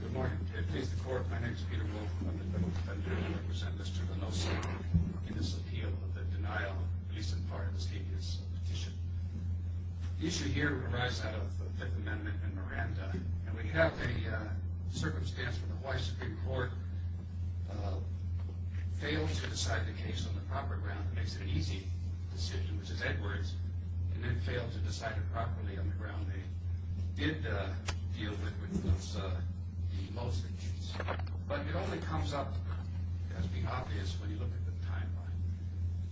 Good morning. It plays the court. My name is Peter Wolfe. I'm the Federal Defender. I represent Mr. Vanosa in this appeal of the denial of a recent part of the state's petition. The issue here would arise out of the Fifth Amendment and Miranda, and we have a circumstance where the Hawaii Supreme Court failed to decide the case on the proper ground. It makes it an easy decision, which is Edwards, and then failed to decide it properly on the ground. They did deal with Vanosa the most, but it only comes up as being obvious when you look at the timeline.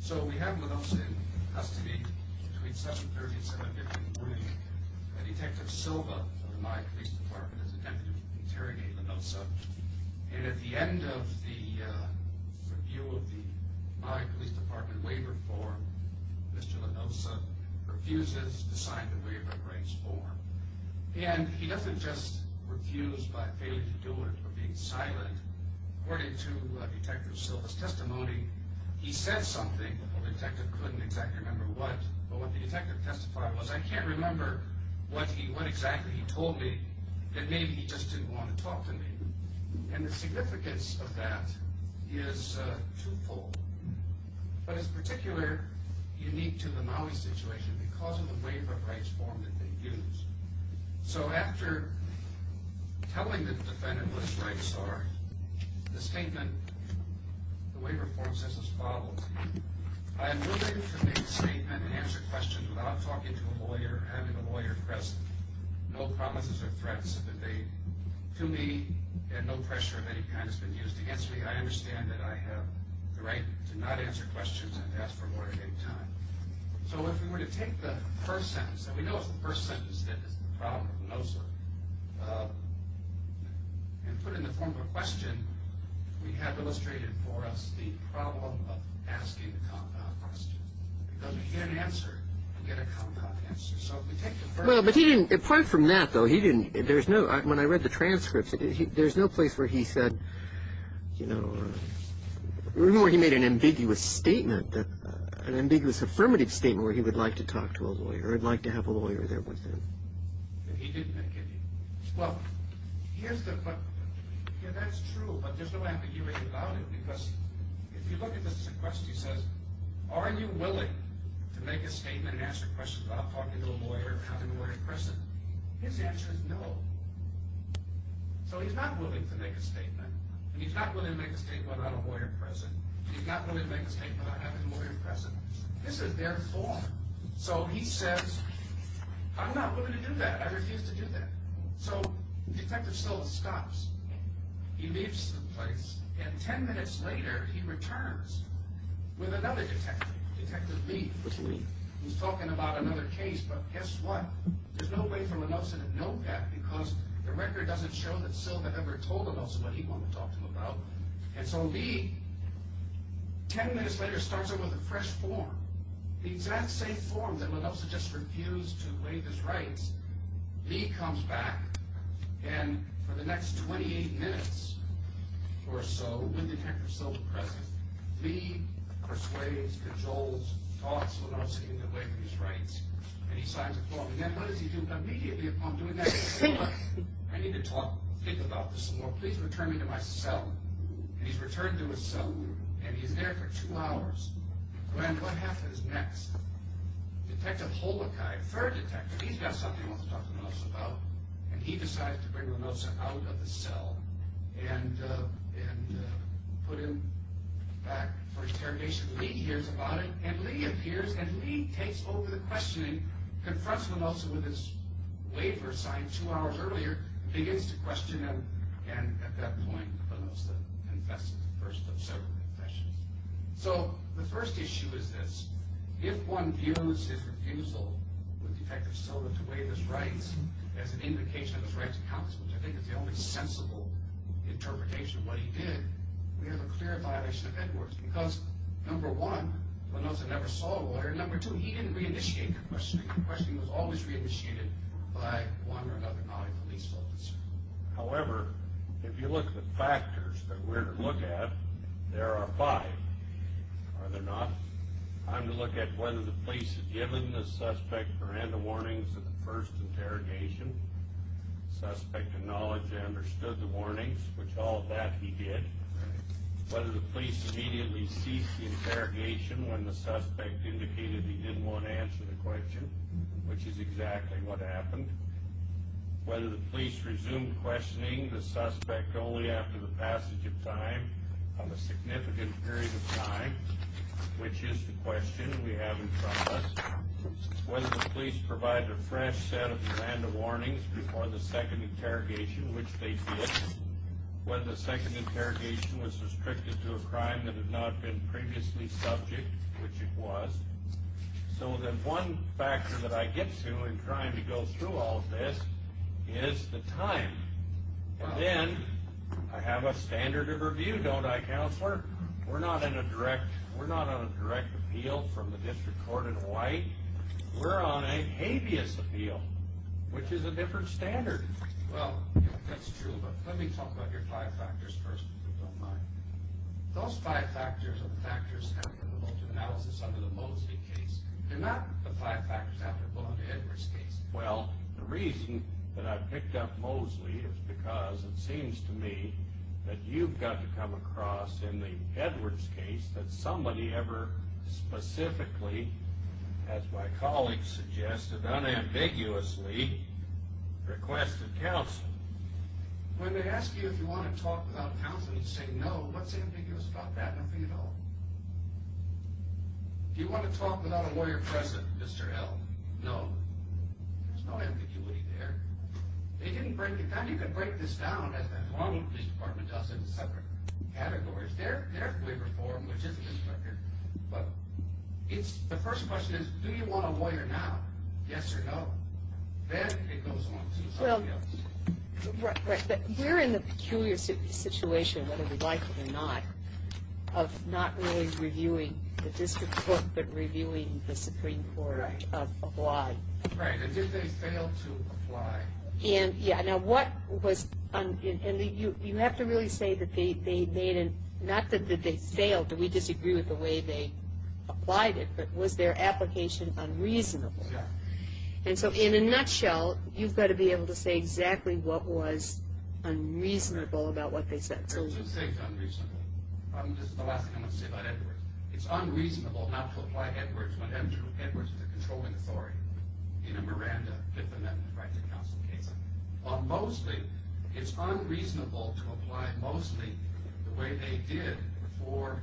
So we have Vanosa in custody between 7.30 and 7.15 in the morning, and Detective Silva of the Maui Police Department has attempted to interrogate Vanosa. And at the end of the review of the Maui Police Department waiver form, Mr. Vanosa refuses to sign the waiver rights form. And he doesn't just refuse by failing to do it or being silent. According to Detective Silva's testimony, he said something. The detective couldn't exactly remember what, but what the detective testified was, I can't remember what exactly he told me, and maybe he just didn't want to talk to me. And the significance of that is twofold, but it's particularly unique to the Maui situation because of the waiver rights form that they used. So after telling the defendant what his rights are, the statement, the waiver form says as follows, I am willing to make a statement and answer questions without talking to a lawyer or having a lawyer press no promises or threats to me, and no pressure of any kind has been used against me. I understand that I have the right to not answer questions and to ask for a lawyer at any time. So if we were to take the first sentence, and we know it's the first sentence that is the problem of Vanosa, and put it in the form of a question, we have illustrated for us the problem of asking a compound question. Because we get an answer, we get a compound answer. So if we take the first sentence. Well, but he didn't, apart from that, though, he didn't, there's no, when I read the transcripts, there's no place where he said, you know, remember he made an ambiguous statement, an ambiguous affirmative statement where he would like to talk to a lawyer, or he'd like to have a lawyer there with him. He didn't make it. Well, here's the, yeah, that's true, but there's no ambiguity about it, because if you look at this question, he says, are you willing to make a statement and answer questions without talking to a lawyer or having a lawyer present? His answer is no. So he's not willing to make a statement. And he's not willing to make a statement without a lawyer present. And he's not willing to make a statement without having a lawyer present. This is their form. So he says, I'm not willing to do that. I refuse to do that. So Detective Sills stops. He leaves the place. And 10 minutes later, he returns with another detective, Detective Lee, who's talking about another case. But guess what? There's no way for Linolsa to know that, because the record doesn't show that Sills ever told Linolsa what he wanted to talk to him about. And so Lee, 10 minutes later, starts over with a fresh form. The exact same form that Linolsa just refused to waive his rights. Lee comes back. And for the next 28 minutes or so, with Detective Sills present, Lee persuades that Joel's thoughts were not seeking to waive his rights. And he signs a form. And then what does he do immediately upon doing that? He says, look, I need to talk, think about this some more. Please return me to my cell. And he's returned to his cell. And he's there for two hours. And what happens next? Detective Holokai, third detective, he's got something he wants to talk to Linolsa about. And he decides to bring Linolsa out of the cell and put him back for interrogation. Lee hears about it. And Lee appears. And Lee takes over the questioning, confronts Linolsa with his waiver sign two hours earlier, begins to question him. And at that point, Linolsa confesses the first of several confessions. So the first issue is this. If one views his refusal with the effect of soda to waive his rights as an indication of his right to counsel, which I think is the only sensible interpretation of what he did, we have a clear violation of Edwards. Because, number one, Linolsa never saw a lawyer. And number two, he didn't reinitiate the questioning. The questioning was always reinitiated by one or another colleague police officer. However, if you look at the factors that we're to look at, there are five. Are there not? Time to look at whether the police had given the suspect or had the warnings of the first interrogation. Suspect acknowledged they understood the warnings, which all of that he did. Whether the police immediately ceased the interrogation when the suspect indicated he didn't want to answer the question, which is exactly what happened. Whether the police resumed questioning the suspect only after the passage of time of a significant period of time, which is the question we have in front of us. Whether the police provided a fresh set of command of warnings before the second interrogation, which they did. Whether the second interrogation was restricted to a crime that had not been previously subject, which it was. So the one factor that I get to in trying to go through all of this is the time. And then I have a standard of review, don't I, Counselor? We're not on a direct appeal from the District Court in White. We're on a habeas appeal, which is a different standard. Well, that's true, but let me talk about your five factors first, if you don't mind. Those five factors are the factors applicable to analysis under the Mosley case, and not the five factors applicable under Edwards' case. Well, the reason that I picked up Mosley is because it seems to me that you've got to come across in the Edwards case that somebody ever specifically, as my colleagues suggested, unambiguously requested counsel. When they ask you if you want to talk without counsel, you say no. What's ambiguous about that? Nothing at all. Do you want to talk without a lawyer present, Mr. L? No. There's no ambiguity there. They didn't break it down. You can break this down, as the Toronto Police Department does, into separate categories. There's waiver form, which is an inspector. But the first question is, do you want a lawyer now? Yes or no? Then it goes on to something else. We're in the peculiar situation, whether we like it or not, of not really reviewing the district court, but reviewing the Supreme Court of why. Right. Did they fail to apply? Yeah. Now, what was – you have to really say that they made – not that they failed, that we disagree with the way they applied it, but was their application unreasonable? Yeah. And so in a nutshell, you've got to be able to say exactly what was unreasonable about what they said. There are two things unreasonable. This is the last thing I'm going to say about Edwards. It's unreasonable not to apply Edwards when Edwards is a controlling authority in a Miranda Fifth Amendment right to counsel case. But mostly, it's unreasonable to apply it mostly the way they did for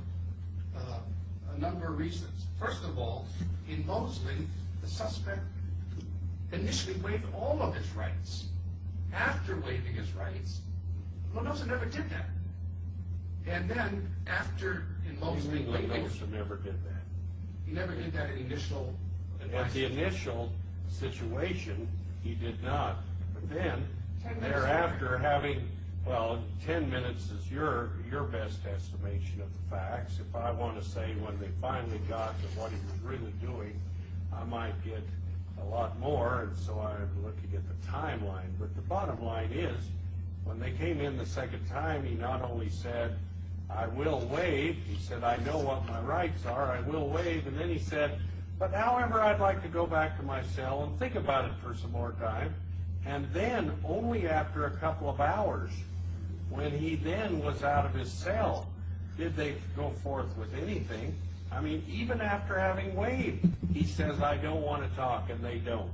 a number of reasons. First of all, in Mosley, the suspect initially waived all of his rights. After waiving his rights, Mendoza never did that. And then after, in Mosley – In Mosley, Mendoza never did that. He never did that in initial – At the initial situation, he did not. But then thereafter, having – well, ten minutes is your best estimation of the facts. If I want to say when they finally got to what he was really doing, I might get a lot more. And so I'm looking at the timeline. But the bottom line is, when they came in the second time, he not only said, I will waive. He said, I know what my rights are. I will waive. And then he said, but however, I'd like to go back to my cell and think about it for some more time. And then, only after a couple of hours, when he then was out of his cell, did they go forth with anything. I mean, even after having waived, he says, I don't want to talk, and they don't.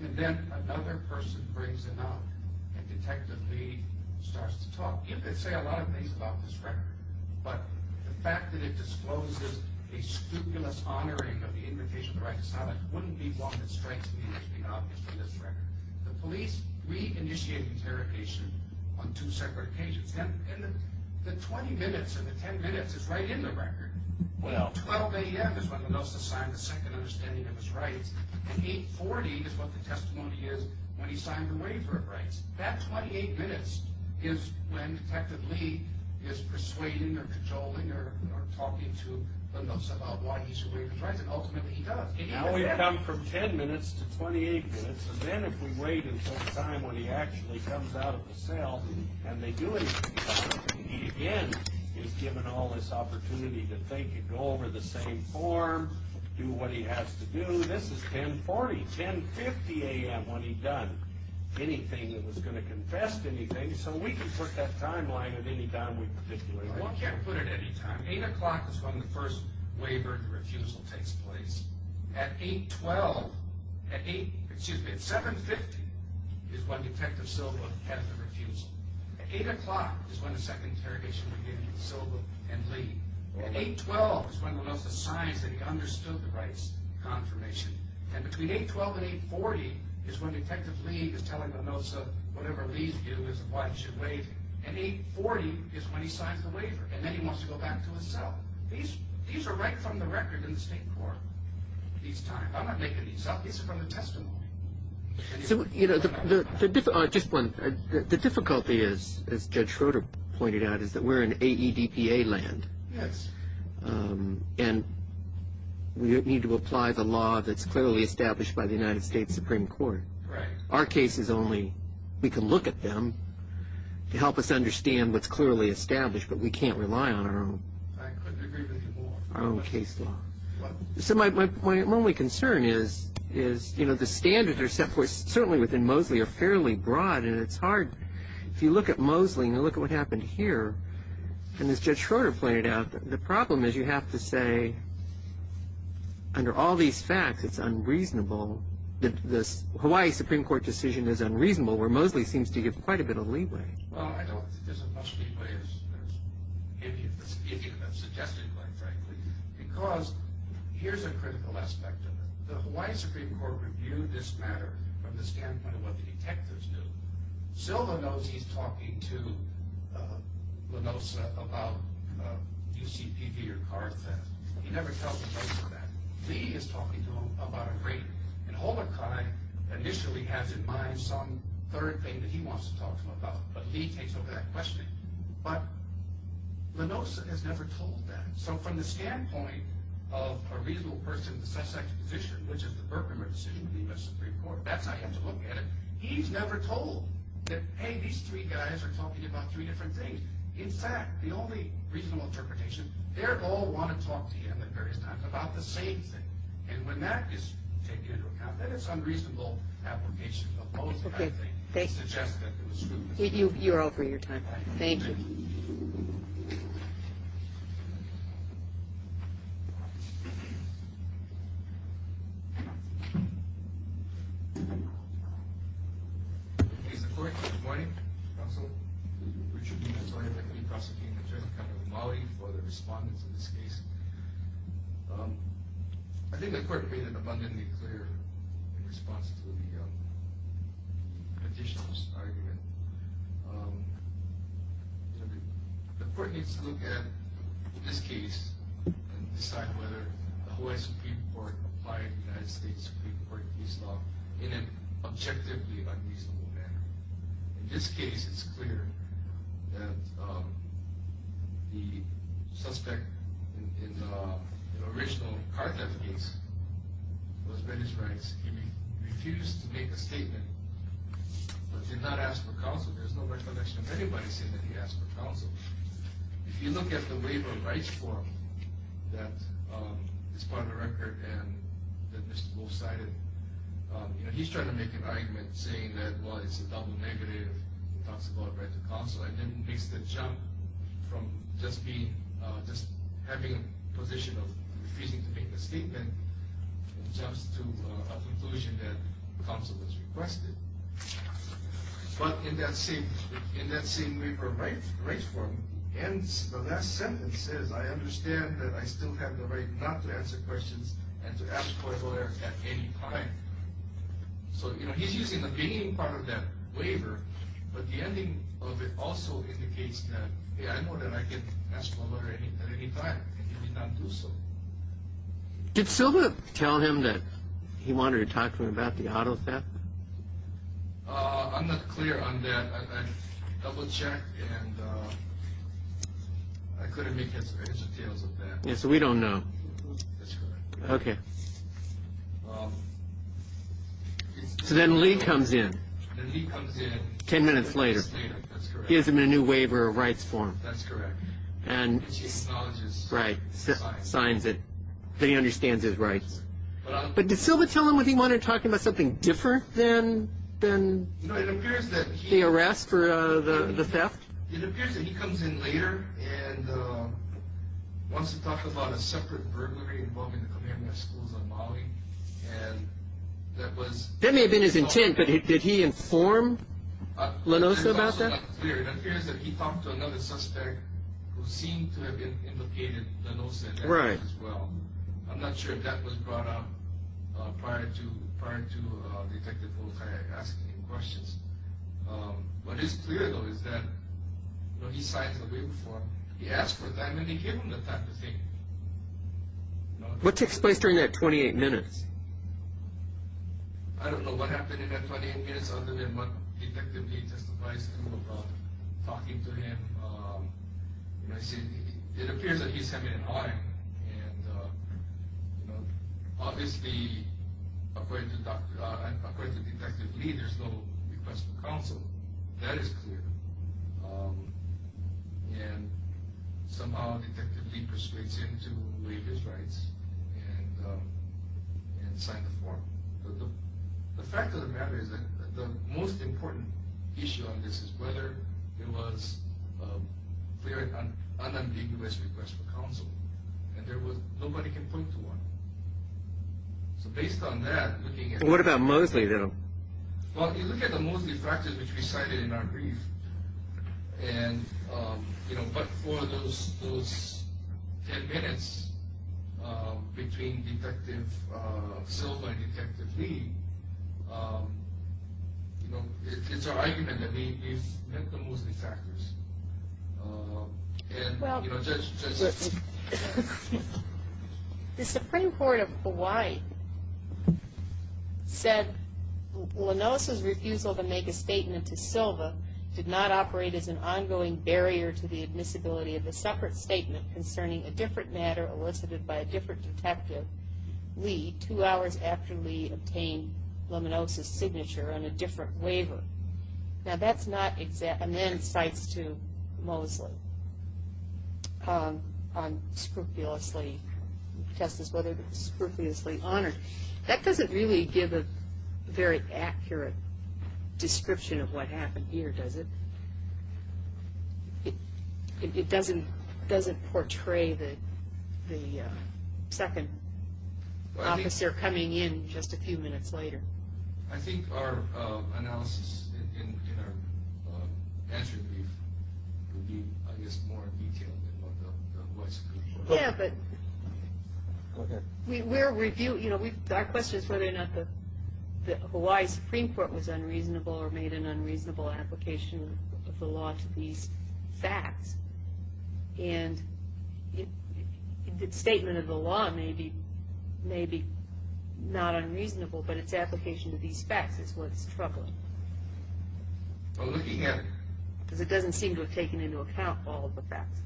And then another person brings him up, and Detective Lee starts to talk. And they say a lot of things about this record. But the fact that it discloses a scrupulous honoring of the invitation of the right to silence wouldn't be one that strikes me as being obvious in this record. The police re-initiated interrogation on two separate occasions. And the 20 minutes and the 10 minutes is right in the record. Well, 12 a.m. is when Mendoza signed the second understanding of his rights. And 8.40 is what the testimony is when he signed the waiver of rights. That 28 minutes is when Detective Lee is persuading or cajoling or talking to Mendoza about why he should waive his rights. And ultimately, he does. Now we've come from 10 minutes to 28 minutes. And then if we wait until the time when he actually comes out of the cell and they do anything about it, he again is given all this opportunity to think and go over the same form, do what he has to do. This is 10.40, 10.50 a.m. when he done anything that was going to confess anything. So we can put that timeline at any time we particularly like. Well, we can't put it at any time. 8 o'clock is when the first waiver and refusal takes place. At 8.12, at 8, excuse me, at 7.50 is when Detective Silva has the refusal. At 8 o'clock is when the second interrogation begins with Silva and Lee. At 8.12 is when Mendoza signs that he understood the rights confirmation. And between 8.12 and 8.40 is when Detective Lee is telling Mendoza whatever Lee's due is why he should waive. And 8.40 is when he signs the waiver. And then he wants to go back to his cell. These are right from the record in the State Court these times. I'm not making these up. These are from the testimony. So, you know, the difficulty is, as Judge Schroeder pointed out, is that we're in AEDPA land. Yes. And we need to apply the law that's clearly established by the United States Supreme Court. Right. Our case is only we can look at them to help us understand what's clearly established, but we can't rely on our own. I couldn't agree with you more. Our own case law. So my only concern is, you know, the standards that are set, certainly within Mosley, are fairly broad, and it's hard. If you look at Mosley and you look at what happened here, and as Judge Schroeder pointed out, the problem is you have to say under all these facts it's unreasonable, the Hawaii Supreme Court decision is unreasonable, where Mosley seems to give quite a bit of leeway. Well, I don't think there's enough leeway, if you can suggest it quite frankly, because here's a critical aspect of it. The Hawaii Supreme Court reviewed this matter from the standpoint of what the detectives knew. Silva knows he's talking to Lenosa about UCPV or car theft. He never tells Lenosa that. Lee is talking to him about a rape. And Holmachai initially has in mind some third thing that he wants to talk to him about, but Lee takes over that questioning. But Lenosa has never told that. So from the standpoint of a reasonable person in the Sussex position, which is the Burkheimer decision of the U.S. Supreme Court, that's how you have to look at it, he's never told that, hey, these three guys are talking about three different things. In fact, the only reasonable interpretation, they all want to talk to him at various times about the same thing. And when that is taken into account, then it's unreasonable application of Mosley, I think, suggests that it was true. You're over your time. Thank you. Thank you. Mr. Court, good morning. Counsel Richard Lee has already been re-prosecuting the judgment of Mosley for the respondents in this case. I think the court made it abundantly clear in response to the petitioner's argument. The court needs to look at this case and decide whether the U.S. Supreme Court applied United States Supreme Court case law in an objectively unreasonable manner. In this case, it's clear that the suspect in the original car theft case was ready to rise. He refused to make a statement, but did not ask for counsel. There's no recollection of anybody saying that he asked for counsel. If you look at the waiver of rights form that is part of the record and that Mr. Wolf cited, he's trying to make an argument saying that, well, it's a double negative. He talks about a right to counsel. I think it makes the jump from just having a position of refusing to make a statement jumps to a conclusion that counsel is requested. But in that same waiver of rights form, the last sentence says, I understand that I still have the right not to answer questions and to ask for a lawyer at any time. So he's using the beginning part of that waiver, but the ending of it also indicates that, yeah, I know that I can ask for a lawyer at any time, and he did not do so. Did Silva tell him that he wanted to talk to him about the auto theft? I'm not clear on that. Double check. So we don't know. OK. So then Lee comes in. He comes in 10 minutes later. He has a new waiver of rights form. That's correct. And she's right. Signs it. Then he understands his rights. But did Silva tell him that he wanted to talk to him about something different than the arrest or the theft? It appears that he comes in later and wants to talk about a separate burglary involving the commandment schools of Mali. That may have been his intent, but did he inform Lenoso about that? It appears that he talked to another suspect who seemed to have implicated Lenoso as well. I'm not sure if that was brought up prior to Detective Voltaire asking him questions. What is clear, though, is that he signs the waiver form. He asked for time, and he gave him the time to take it. What takes place during that 28 minutes? I don't know what happened in that 28 minutes other than what Detective Lee just advised him about talking to him. It appears that he's having an argument. Obviously, according to Detective Lee, there's no request for counsel. That is clear. And somehow Detective Lee persuades him to waive his rights and sign the form. The fact of the matter is that the most important issue on this is whether there was an unambiguous request for counsel. Nobody can point to one. So based on that, looking at— What about Mosley, though? Well, you look at the Mosley factors, which we cited in our brief. And, you know, but for those 10 minutes between Detective Silva and Detective Lee, you know, it's our argument that they've met the Mosley factors. And, you know, Judge— The Supreme Court of Hawaii said, Laminosa's refusal to make a statement to Silva did not operate as an ongoing barrier to the admissibility of a separate statement concerning a different matter elicited by a different detective, Lee, two hours after Lee obtained Laminosa's signature on a different waiver. Now, that's not exact. And then it cites to Mosley on scrupulously—tests whether it was scrupulously honored. That doesn't really give a very accurate description of what happened here, does it? It doesn't portray the second officer coming in just a few minutes later. I think our analysis in our answer brief would be, I guess, more detailed than what the Hawaii Supreme Court— Yeah, but we're reviewing—you know, our question is whether or not the Hawaii Supreme Court was unreasonable or made an unreasonable application of the law to these facts. And the statement of the law may be not unreasonable, but its application to these facts is what's troubling. Well, looking at— Because it doesn't seem to have taken into account all of the facts.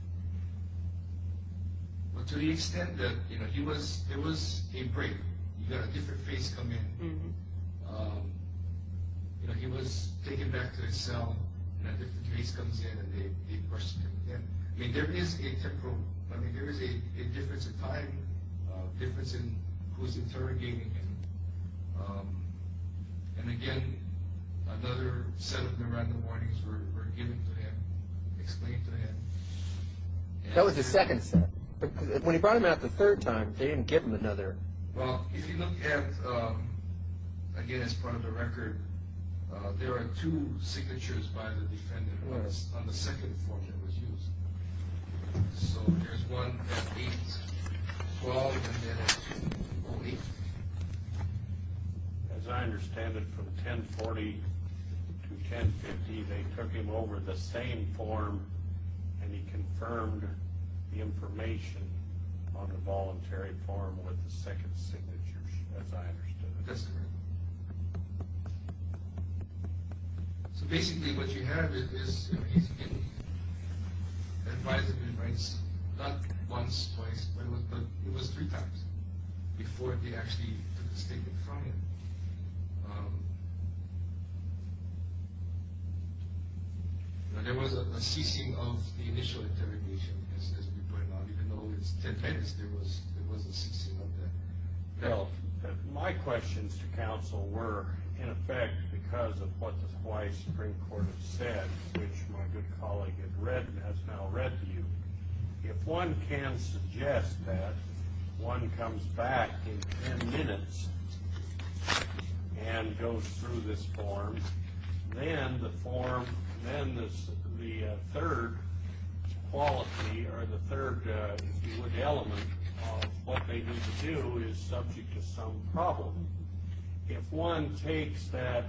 Well, to the extent that, you know, he was—there was a break. You got a different face come in. You know, he was taken back to his cell, and a different face comes in, and they question him again. I mean, there is a temporal—I mean, there is a difference in time, difference in who's interrogating him. And again, another set of nirvana warnings were given to him, explained to him. That was the second set. When he brought him out the third time, they didn't give him another. Well, if you look at—again, as part of the record, there are two signatures by the defendant on the second form that was used. So there's one at 8-12, and then at 2-08. As I understand it, from 10-40 to 10-50, they took him over the same form, and he confirmed the information on the voluntary form with the second signature, as I understand it. That's correct. So basically, what you have is, you know, he's been advised of his rights not once, twice, but it was three times before they actually took the statement from him. There was a ceasing of the initial interrogation, as we pointed out. Even though it's 10 minutes, there was a ceasing of that. Well, my questions to counsel were, in effect, because of what the Hawaii Supreme Court has said, which my good colleague has now read to you. If one can suggest that one comes back in 10 minutes and goes through this form, then the third quality or the third, if you would, element of what they need to do is subject to some problem. If one takes that,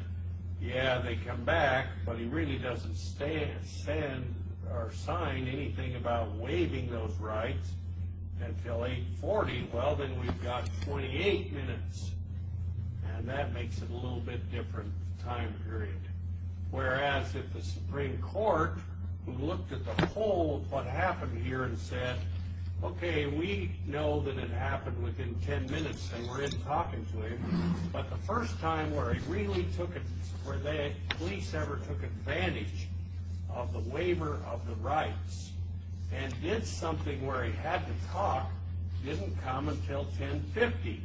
yeah, they come back, but he really doesn't stand or sign anything about waiving those rights until 8-40, well, then we've got 28 minutes, and that makes it a little bit different time period. Whereas if the Supreme Court, who looked at the whole of what happened here and said, okay, we know that it happened within 10 minutes and we're in talking to him, but the first time where he really took it, where the police ever took advantage of the waiver of the rights and did something where he had to talk, didn't come until 10-50,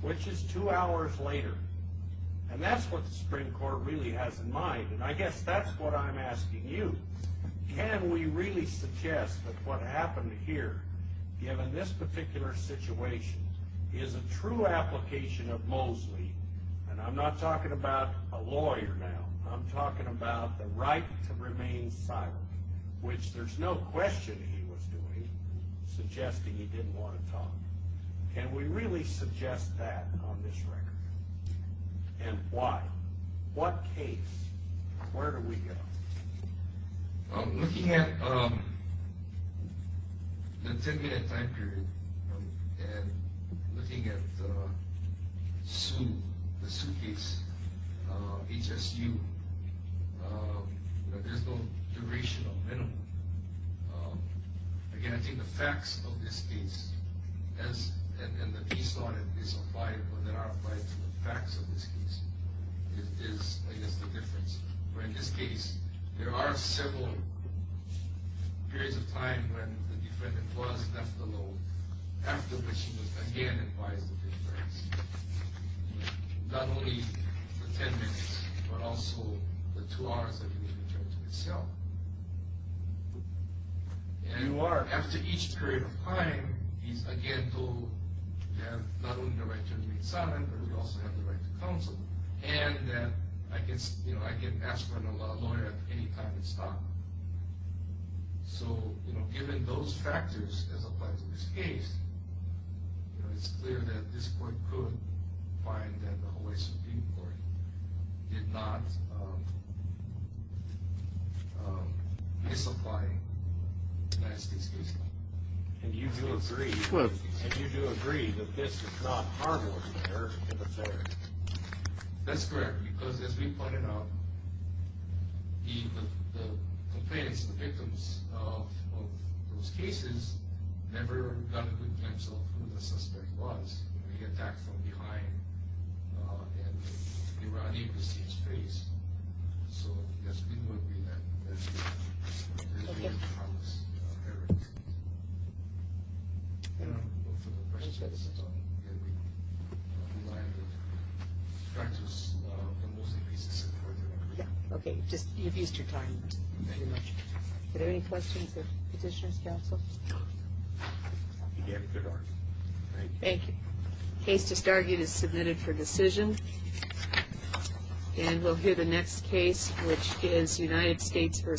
which is two hours later. And that's what the Supreme Court really has in mind, and I guess that's what I'm asking you. Can we really suggest that what happened here, given this particular situation, is a true application of Mosley, and I'm not talking about a lawyer now, I'm talking about the right to remain silent, which there's no question he was doing, suggesting he didn't want to talk. Can we really suggest that on this record? And why? What case? Where do we go? Looking at the 10-minute time period and looking at the suit, the suitcase, HSU, there's no duration of minimum. Again, I think the facts of this case, and the piece on it is applied, or there are applied to the facts of this case, is I guess the difference. In this case, there are several periods of time when the defendant was left alone, after which he was again advised of his rights. Not only the 10 minutes, but also the two hours that he was returned to his cell. And after each period of time, he's again told that not only the right to remain silent, but he also has the right to counsel, and that I can ask for another lawyer at any time and stop. So, you know, given those factors as applied to this case, it's clear that this court could find that the Hawaii Supreme Court did not misapply the United States case law. And you do agree that this is not a hard-line American affair? That's correct, because as we pointed out, the complainants, the victims of those cases, never got a good counsel of who the suspect was. He attacked from behind, and we were unable to see his face. So, yes, we would be that. Okay. Okay, you've used your time. Thank you much. Are there any questions of Petitioner's Counsel? You gave a good argument. Thank you. Thank you. Thank you. Thank you.